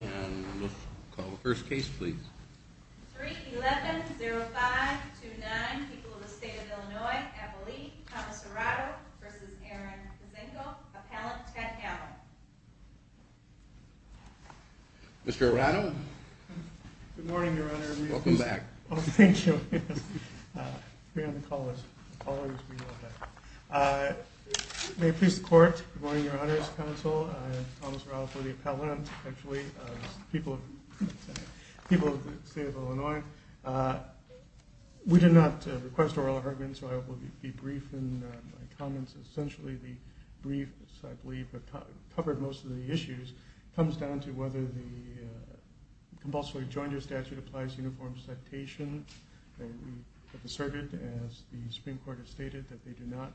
and we'll call the first case please 3 11 0 5 2 9 people of the state of illinois appellee thomas arado versus aaron kazengo appellant ted allen mr arado good morning your honor welcome back oh thank you we're going to call this uh may it please the court good morning your honors counsel thomas arado for the appellant actually people of people of the state of illinois we did not request oral argument so i will be brief in my comments essentially the briefs i believe have covered most of the issues comes down to whether the compulsory joiner statute applies uniform citation and we have asserted as the supreme court has stated that they do not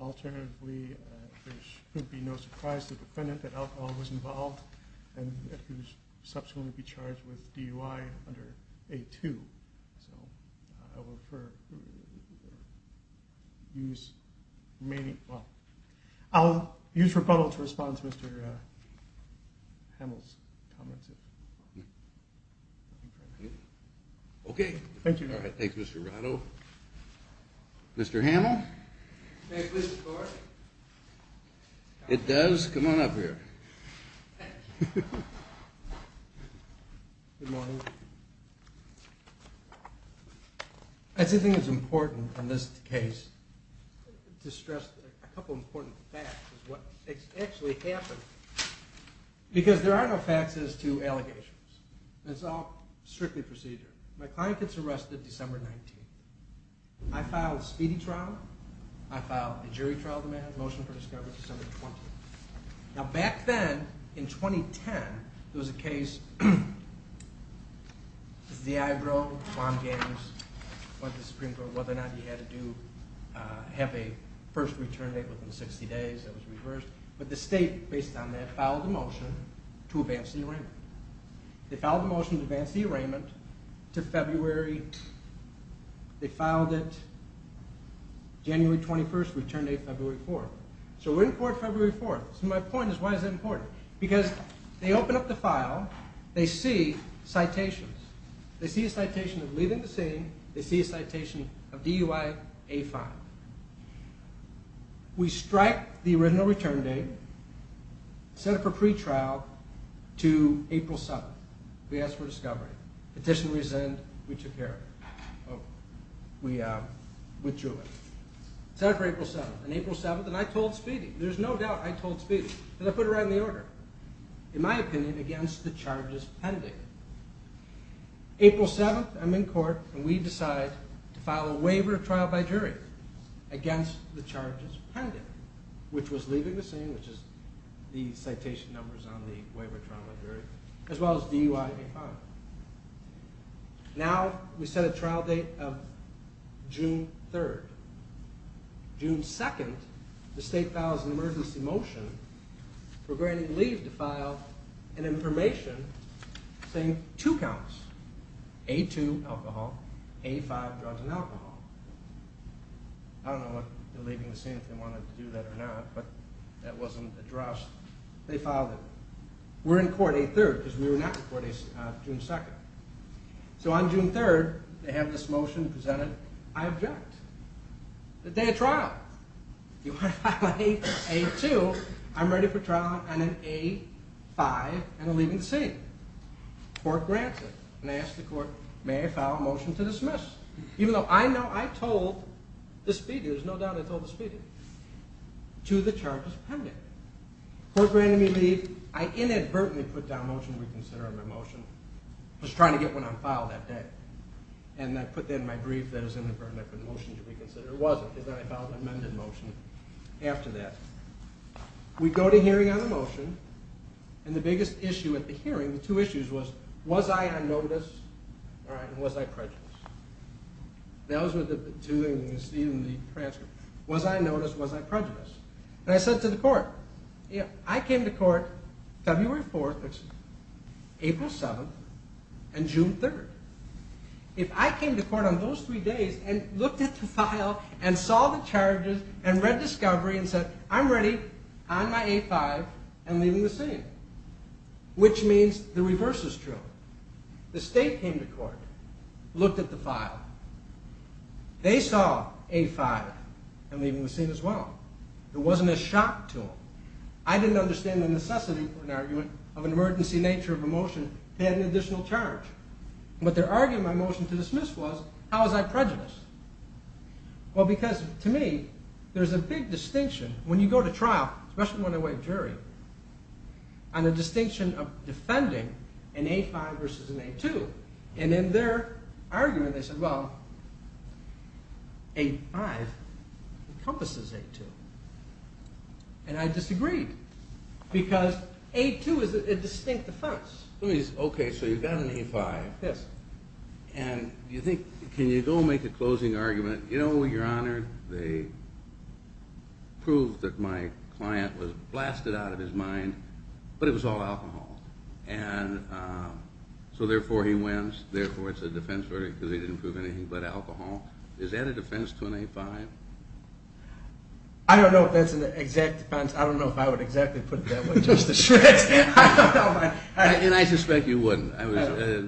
alternatively there should be no surprise to the defendant that alcohol was involved and that he was subsequently charged with dui under a2 so i will refer use remaining well i'll use rebuttal to respond to mr uh hamill's comments okay thank you all right thanks mr arado mr hamill it does come on up here good morning that's the thing that's important in this case to stress a couple important facts is what actually happened because there are no facts as to allegations it's all strictly procedure my client gets arrested december 19th i filed speedy trial i filed a jury trial demand motion for discovery december 20th now back then in 2010 there was a case this is the eyebrow bomb games but the supreme court whether or not he had to do have a first return date within 60 days that was reversed but the state based on that followed the motion to advance the arraignment they followed the motion to advance the arraignment to february they filed it january 21st return date february 4th so we're in court february 4th so my point is why is that important because they open up the file they see citations they see a citation of a file we strike the original return date set up for pre-trial to april 7th we asked for discovery petition resend we took care of we uh withdrew it set up for april 7th and april 7th and i told speedy there's no doubt i told speedy and i put it right in the order in my opinion against the trial by jury against the charges pending which was leaving the scene which is the citation numbers on the waiver trial by jury as well as dui now we set a trial date of june 3rd june 2nd the state files an emergency motion for granting leave to file an information saying two counts a2 alcohol a5 drugs and alcohol i don't know what they're leaving the scene if they wanted to do that or not but that wasn't addressed they filed it we're in court a3rd because we were not before june 2nd so on june 3rd they have this motion presented i object the day of trial you want to file a2 i'm ready for trial on an a5 and i'm leaving the scene court grants it and i asked the court may i file a motion to dismiss even though i know i told the speedy there's no doubt i told the speedy to the charges pending court granted me leave i inadvertently put down motion reconsidering my motion was trying to get one on file that day and i put that in my brief that is in the permit for the motion to reconsider it wasn't because i filed an amended motion after that we go to hearing on the motion and the biggest issue at the hearing the two issues was was i on notice all right was i prejudiced those were the two things you see in the transcript was i noticed was i prejudiced and i said to the court yeah i if i came to court on those three days and looked at the file and saw the charges and read discovery and said i'm ready on my a5 and leaving the scene which means the reverse is true the state came to court looked at the file they saw a5 and leaving the scene as well it wasn't a shock to them i didn't understand the necessity for an argument of an emergency nature of a motion to add an additional charge what they're arguing my motion to dismiss was how was i prejudiced well because to me there's a big distinction when you go to trial especially when i wait jury on the distinction of defending an a5 versus an a2 and in their argument they said well a5 encompasses a2 and i disagreed because a2 is a distinct defense okay so you've got an a5 yes and you think can you go make a closing argument you know your honor they proved that my client was blasted out of his mind but it was all alcohol and so therefore he wins therefore it's a defense verdict because he didn't prove anything but alcohol is that a defense to an a5 i don't know if that's an exact defense i don't know if i would exactly put it that way and i suspect you wouldn't i was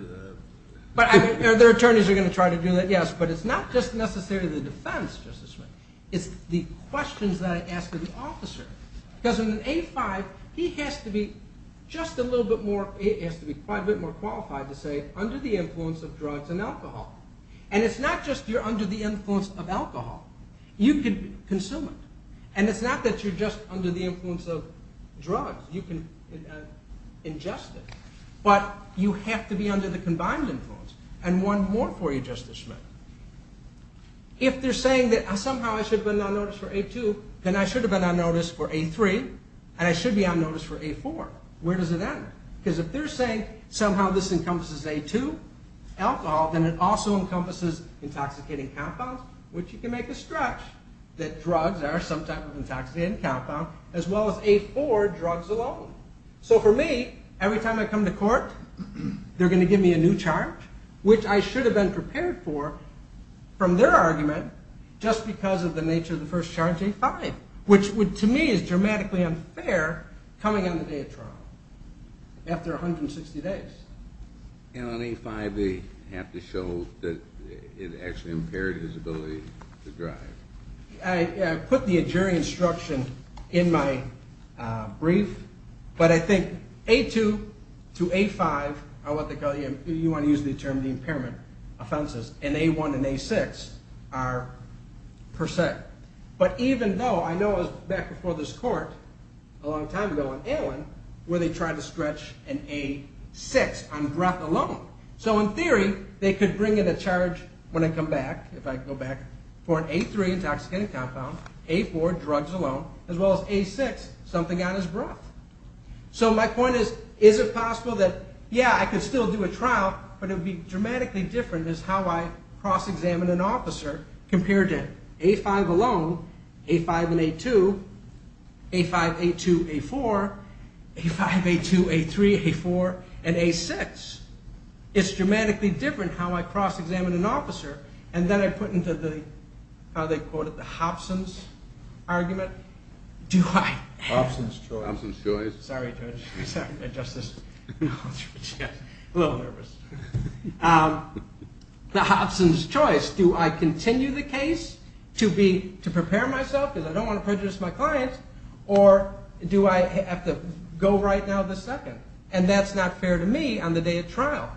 but the attorneys are going to try to do that yes but it's not just necessarily the defense justice it's the questions that i ask of the officer because in an a5 he has to be just a little bit more it has to be quite a bit more qualified to say under the influence of drugs and alcohol and it's not just you're under the influence of alcohol you can consume it and it's not that you're just under the influence of drugs you can ingest it but you have to be under the combined influence and one more for you justice schmidt if they're saying that somehow i should have been on notice for a2 then i should have been on notice for a3 and i should be on notice for a4 where does it end because if they're saying somehow this encompasses a2 alcohol then it also encompasses intoxicating compounds which you can make a stretch that drugs are some type of intoxicating compound as well as a4 drugs alone so for me every time i come to court they're going to give me a new charge which i should have been prepared for from their argument just because of the nature of the first charge a5 which would to me is dramatically unfair coming on the day of trial after 160 days and on a5 they have to show that it actually impaired his ability to drive i put the injuring instruction in my brief but i think a2 to a5 are what they call you you want to use the term the impairment offenses and a1 and a6 are per se but even though i know i was back before this court a long time ago in allen where they tried to stretch an a6 on breath alone so in theory they could bring in a charge when i come back if i go back for an a3 intoxicating compound a4 drugs alone as well as a6 something on his breath so my point is is it possible that yeah i could still do a trial but it would be dramatically different is how i cross-examine an officer compared to a5 alone a5 and a2 a5 a2 a4 a5 a2 a3 a4 and a6 it's dramatically different how i cross-examine an officer and then i put into the how they quote it the hobsons argument do i hobson's choice sorry judge justice yes a little nervous um the hobson's choice do i continue the case to be to prepare myself because i don't want to prejudice my client or do i have to go right now the second and that's not fair to me on the day of trial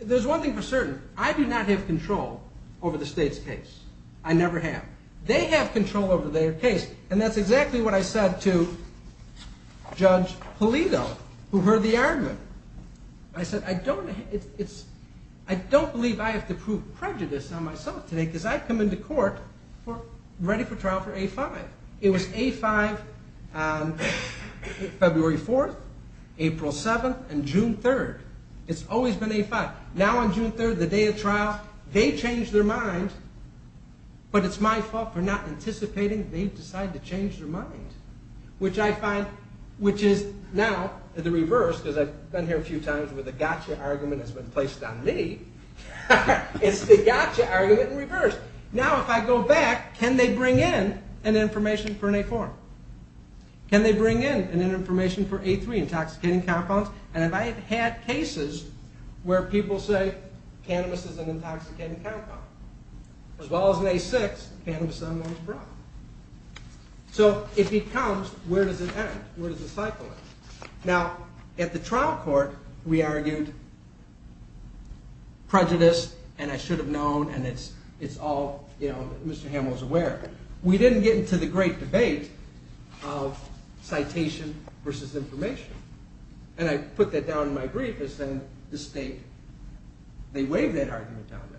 there's one thing for certain i do not have control over the state's case i never have they have control over their case and that's exactly what i said to judge palito who heard the argument i said i don't it's i don't believe i have to prove prejudice on myself today because i've come into court for ready for trial for a5 it was a5 um february 4th april 7th and june 3rd it's always been a5 now on june 3rd the day of trial they change their mind but it's my fault for not anticipating they decide to change their mind which i find which is now the reverse because i've been here a few times where the gotcha argument has been placed on me it's the gotcha argument in reverse now if i go back can they bring in an information for an a4 can they bring in an information for a3 intoxicating compounds and if i had had cases where people say cannabis is an intoxicating compound as well as an a6 cannabis is not a problem so it becomes where does it end where does the cycle end now at the trial court we argued prejudice and i should have known and it's it's all you know mr hamill's aware we didn't get into the great debate of citation versus information and i put that down in my brief as then the state they waived that argument down there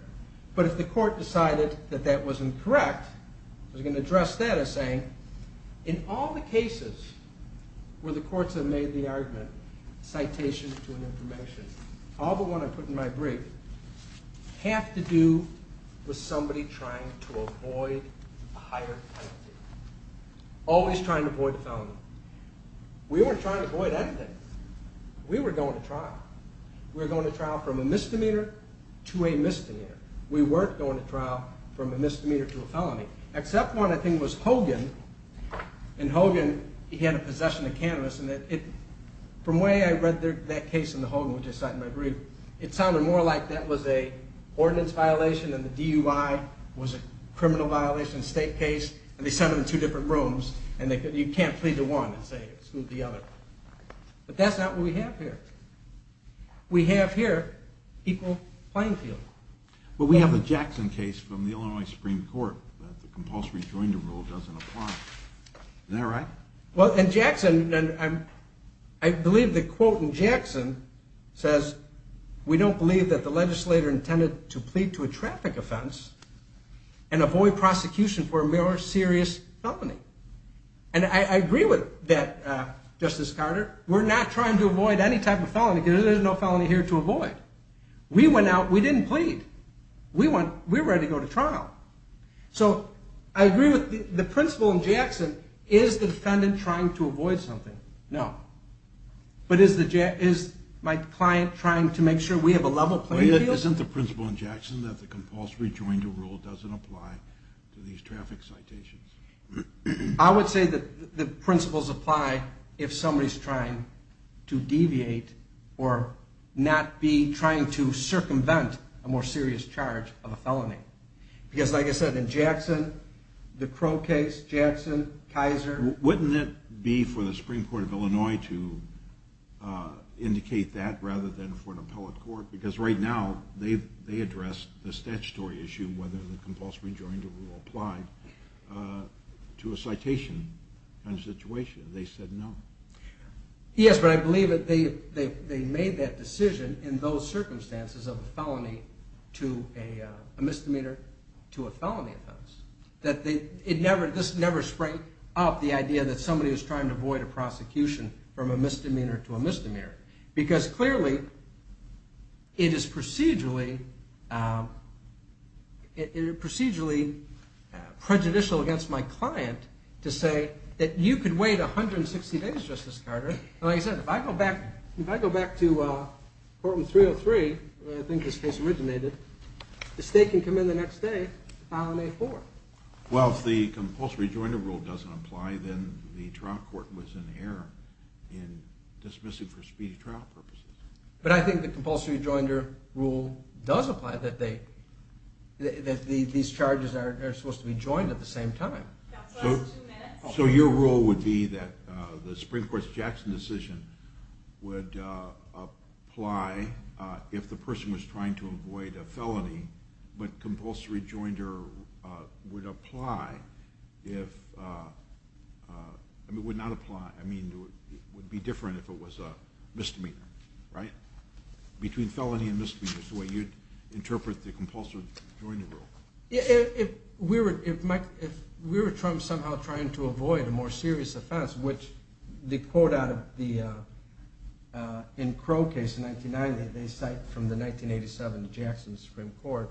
but if the court decided that that was incorrect i was going to address that as saying in all the cases where the courts have made the argument citation to an information all the one i put in my brief have to do with somebody trying to avoid a higher penalty always trying to avoid the felony we weren't trying to avoid anything we were going to trial we were going to trial from a misdemeanor to a misdemeanor we weren't going to trial from a misdemeanor to a felony except one i think was hogan and hogan he had a possession of cannabis and that it from the way i read that case in the hogan which i cite in my brief it sounded more like that was a ordinance violation and the dui was a criminal violation state case and they sent them to different rooms and they could you can't plead to one and say exclude the other but that's not what we have here we have here equal playing field but we have a jackson case from the illinois supreme court that the compulsory joinder rule doesn't apply is that right well and jackson and i'm i believe the quote in jackson says we don't believe that the legislator intended to plead to a traffic offense and avoid prosecution for a more serious felony and i agree with that uh justice carter we're not trying to avoid any type of felony there's no felony here to avoid we went out we didn't plead we want we're ready to go to trial so i agree with the principal in jackson is the defendant trying to avoid something no but is the jack is my client trying to make sure we have a level playing field isn't the principle in jackson that the compulsory joinder rule doesn't apply to these traffic citations i would say that the principles apply if somebody's trying to deviate or not be trying to circumvent a more serious charge of a felony because like i said in jackson the crow case jackson kaiser wouldn't it be for the supreme court of illinois to uh indicate that rather than for an appellate court because right now they've they address the statutory issue whether the to a citation kind of situation they said no yes but i believe that they they made that decision in those circumstances of a felony to a misdemeanor to a felony offense that they it never this never sprang up the idea that somebody was trying to avoid a prosecution from a misdemeanor to a misdemeanor because clearly it is procedurally um it procedurally prejudicial against my client to say that you could wait 160 days justice carter like i said if i go back if i go back to uh courtroom 303 i think this case originated the state can come in the next day on may 4th well if the compulsory joinder rule doesn't apply then the trial court was in error in dismissing for speedy trial purposes but i think the compulsory joinder rule does apply that they that these charges are supposed to be joined at the same time so your rule would be that uh the supreme court's jackson decision would uh apply uh if the person was trying to avoid a felony but compulsory joinder uh would apply if uh uh would not apply i mean it would be different if it was a misdemeanor right between felony and misdemeanors the way you'd interpret the compulsory joinder rule yeah if we were if mike if we were trying somehow trying to avoid a more serious offense which the quote out of the uh in crow case in 1990 they cite from the 1987 jackson supreme court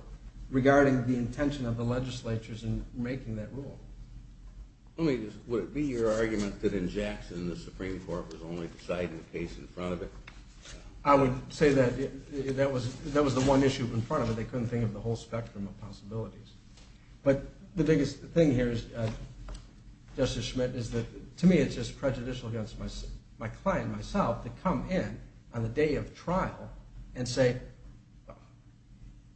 regarding the intention of the legislatures in making that rule let me just would it be your argument that in jackson the supreme court was only deciding the case in front of it i would say that that was that was the one issue in front of it they couldn't think of the whole spectrum of possibilities but the biggest thing here is uh justice schmidt is that to me it's just prejudicial against my client myself to come in on the day of trial and say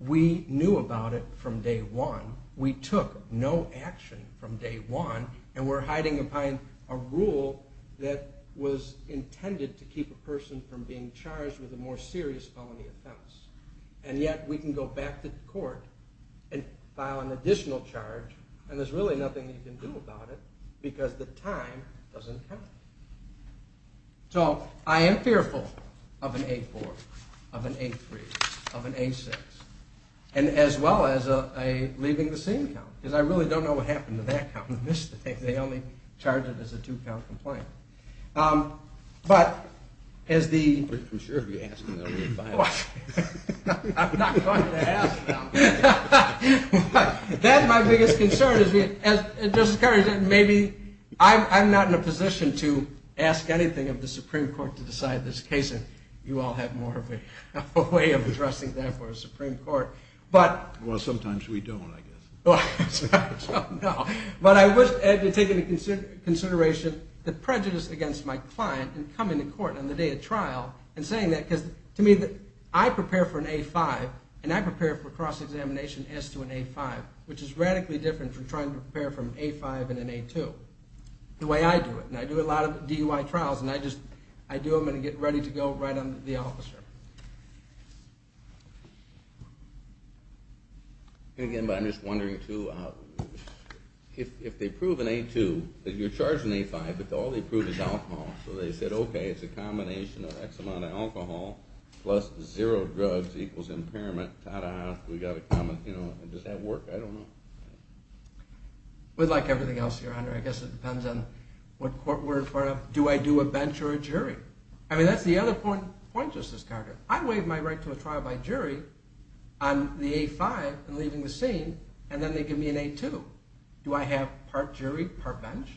we knew about it from day one we took no action from day one and we're hiding behind a rule that was intended to keep a person from being charged with a more serious felony offense and yet we can go back to court and file an additional charge and there's really nothing you can do about it because the time doesn't count so i am fearful of an a4 of an a3 of an a6 and as well as a leaving the scene count because i really don't know what happened to that count in this thing they only charge it as a two count um but as the i'm sure if you ask me i'm not going to ask now that's my biggest concern is me as just discouraging maybe i'm i'm not in a position to ask anything of the supreme court to decide this case and you all have more of a way of addressing that for a supreme court but well sometimes we don't i guess well no but i wish taking into consideration the prejudice against my client and coming to court on the day of trial and saying that because to me that i prepare for an a5 and i prepare for cross examination as to an a5 which is radically different from trying to prepare from a5 and an a2 the way i do it and i do a lot of dui trials and i just i do them and get ready to go right under the officer again but i'm just wondering too uh if if they prove an a2 that you're charging a5 but all they prove is alcohol so they said okay it's a combination of x amount of alcohol plus zero drugs equals impairment we got a comment you know does that work i don't know with like everything else your honor i guess it depends on what court we're in front of do i do a bench or a jury i mean that's the other point point justice carter i waive my right to a trial by jury on the a5 and leaving the scene and then they give me an a2 do i have part jury part bench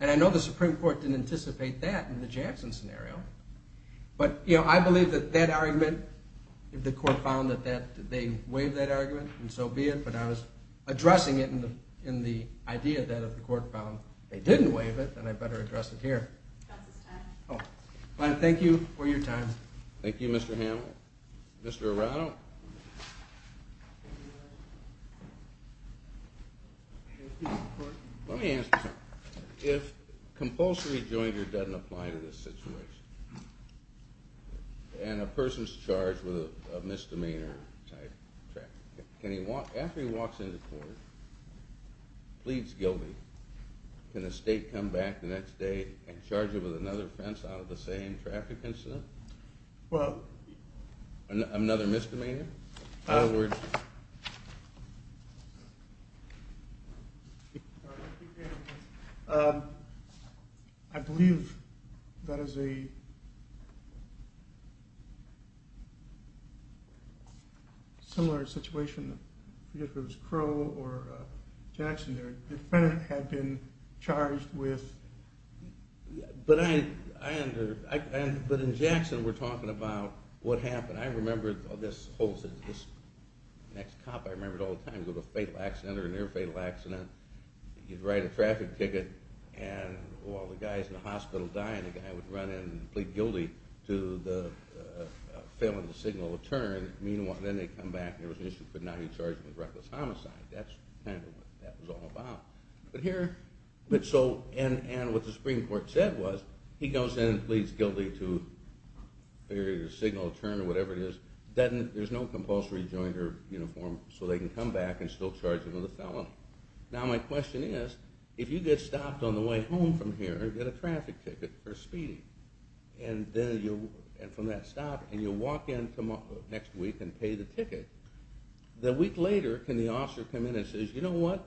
and i know the supreme court didn't anticipate that in the jackson scenario but you know i believe that that argument if the court found that that they waived that argument and so be it but i was addressing it in the in the idea that if the court found they didn't and i better address it here that's this time oh fine thank you for your time thank you mr hamill mr arano let me ask you something if compulsory jointer doesn't apply to this situation and a person's charged with a misdemeanor type traffic can he walk after he walks into court please guilty can the state come back the next day and charge him with another offense out of the same traffic incident well another misdemeanor other words um i believe that is a uh similar situation if it was crow or jackson their defendant had been charged with but i i under i but in jackson we're talking about what happened i remembered this whole next cop i remembered all the time with a fatal accident or near fatal accident you'd write a traffic ticket and all the guys in the hospital dying the guy would run in to the uh failing to signal a turn meanwhile then they come back there was an issue could not be charged with reckless homicide that's kind of what that was all about but here but so and and what the supreme court said was he goes in and pleads guilty to failure to signal a turn or whatever it is then there's no compulsory jointer uniform so they can come back and still charge another felon now my question is if you get stopped on the way home from here get a traffic ticket for speeding and then you and from that stop and you'll walk in tomorrow next week and pay the ticket the week later can the officer come in and says you know what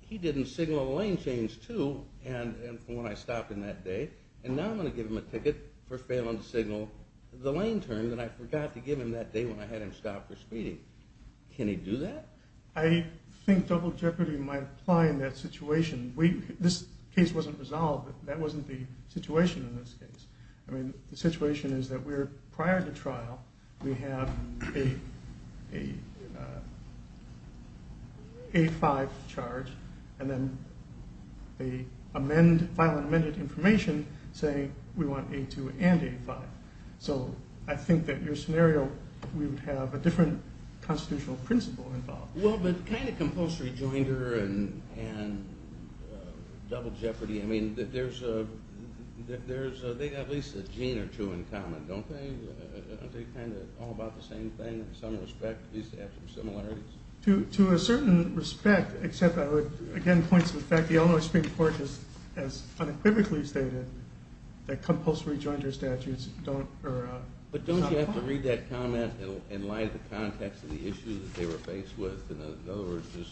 he didn't signal the lane change too and and when i stopped in that day and now i'm going to give him a ticket for failing to signal the lane turn that i forgot to give him that day when i had him stopped for speeding can he do that i think double jeopardy might apply in that situation we this case wasn't resolved that wasn't the situation in this case i mean the situation is that we're prior to trial we have a a5 charge and then they amend file amended information saying we want a2 and a5 so i think that your scenario we would have a different constitutional principle involved well but kind of compulsory jointer and and double jeopardy i mean that there's a that there's a they got at least a gene or two in common don't they aren't they kind of all about the same thing in some respect at least have some similarities to to a certain respect except i would again point to the fact the Illinois Supreme Court has as unequivocally stated that compulsory jointer statutes don't or but don't you have to read that in light of the context of the issue that they were faced with in other words just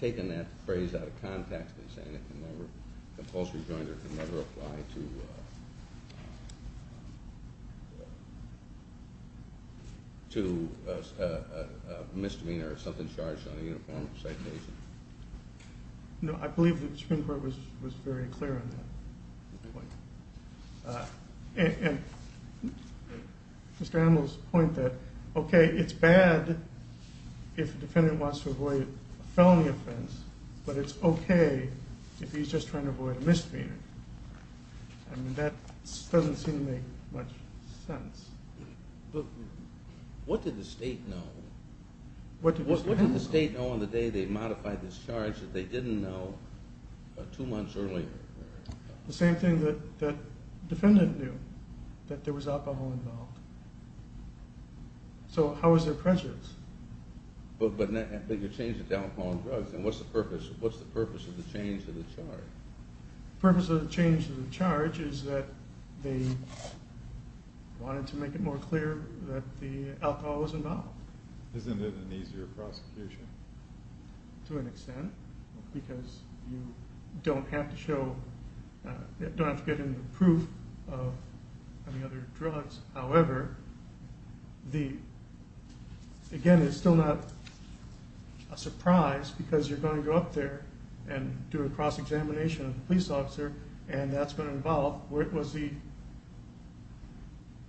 taking that phrase out of context and saying it can never compulsory jointer can never apply to to a misdemeanor or something charged on a uniform citation you know i believe that the Supreme Court was was very clear on that and Mr. Hamill's point that okay it's bad if the defendant wants to avoid a felony offense but it's okay if he's just trying to avoid a misdemeanor i mean that doesn't seem to make much sense what did the state know what did the state know on the day they modified this charge that they didn't know two months earlier the same thing that that defendant knew that there was alcohol involved so how was their prejudice but but you changed it to alcohol and drugs and what's the purpose what's the purpose of the change of the charge purpose of the change of the charge is that they wanted to make it more clear that the alcohol was involved isn't it an easier prosecution to an extent because you don't have to show you don't have to get into the proof of any other drugs however the again it's still not a surprise because you're going to go up there and do a cross-examination of the police officer and that's going to involve where was he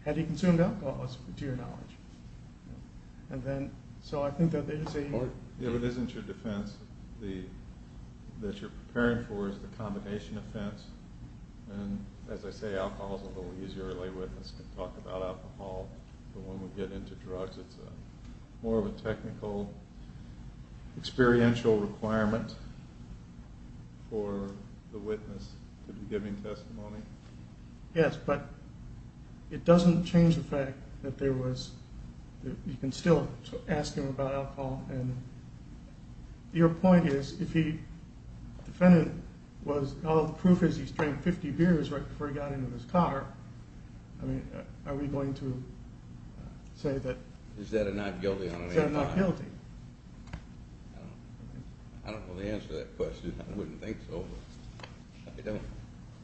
had he consumed alcohol to your knowledge and then so i think that they didn't say if it isn't your defense the that you're preparing for is the combination offense and as i say alcohol is a little easier to lay witness to talk about alcohol but when we get into drugs it's a more of a technical experiential requirement for the witness to be giving testimony yes but it doesn't change the fact that there was you can still ask him about alcohol and your point is if he defendant was all the proof is he's drank 50 beers right before he got into his car i mean are we going to say that is that a not guilty i don't know the answer to that question i wouldn't think so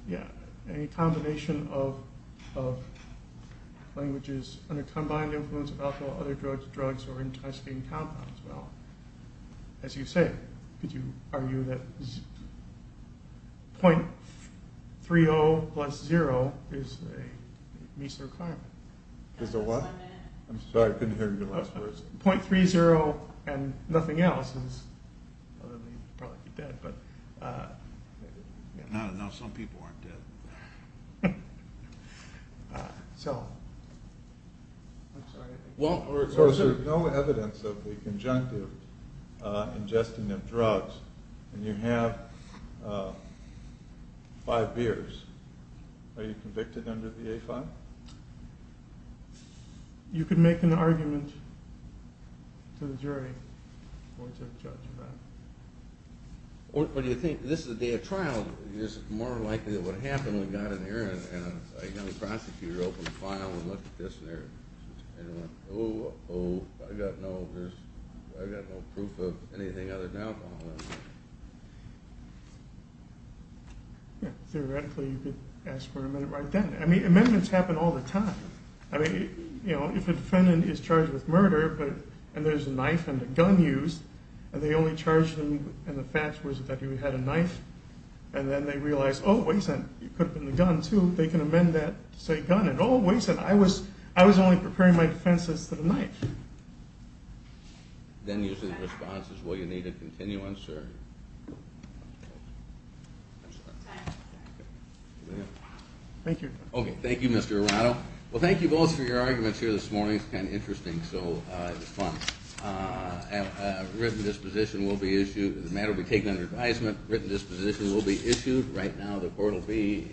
yeah any combination of of languages under combined influence of alcohol other drugs drugs or intestine compounds well as you say could you argue that 0.30 plus zero is a measly requirement is a what i'm sorry i couldn't hear your last words 0.30 and nothing else is probably dead but uh no no some people aren't dead so i'm sorry well there's no evidence of the conjunctive uh ingesting of drugs and you have uh five beers are you convicted under the a-file you could make an argument to the jury or to the judge about it what do you think this is a day of trial it's more likely that what happened when got in here and a young prosecutor opened the file and looked at this there oh oh i got no there's i got no proof of anything other than alcohol yeah theoretically you could ask for a minute right then i mean amendments happen all the time i mean you know if a defendant is charged with murder but and there's a knife and a gun used and they only charged him and the fact was that he had a knife and then they realized oh wait a they can amend that to say gun and always said i was i was only preparing my defenses to the knife then usually the response is will you need a continuance or thank you okay thank you mr arado well thank you both for your arguments here this morning it's kind of interesting so uh it's fun uh uh written disposition will be issued the matter taken under advisement written disposition will be issued right now the court will be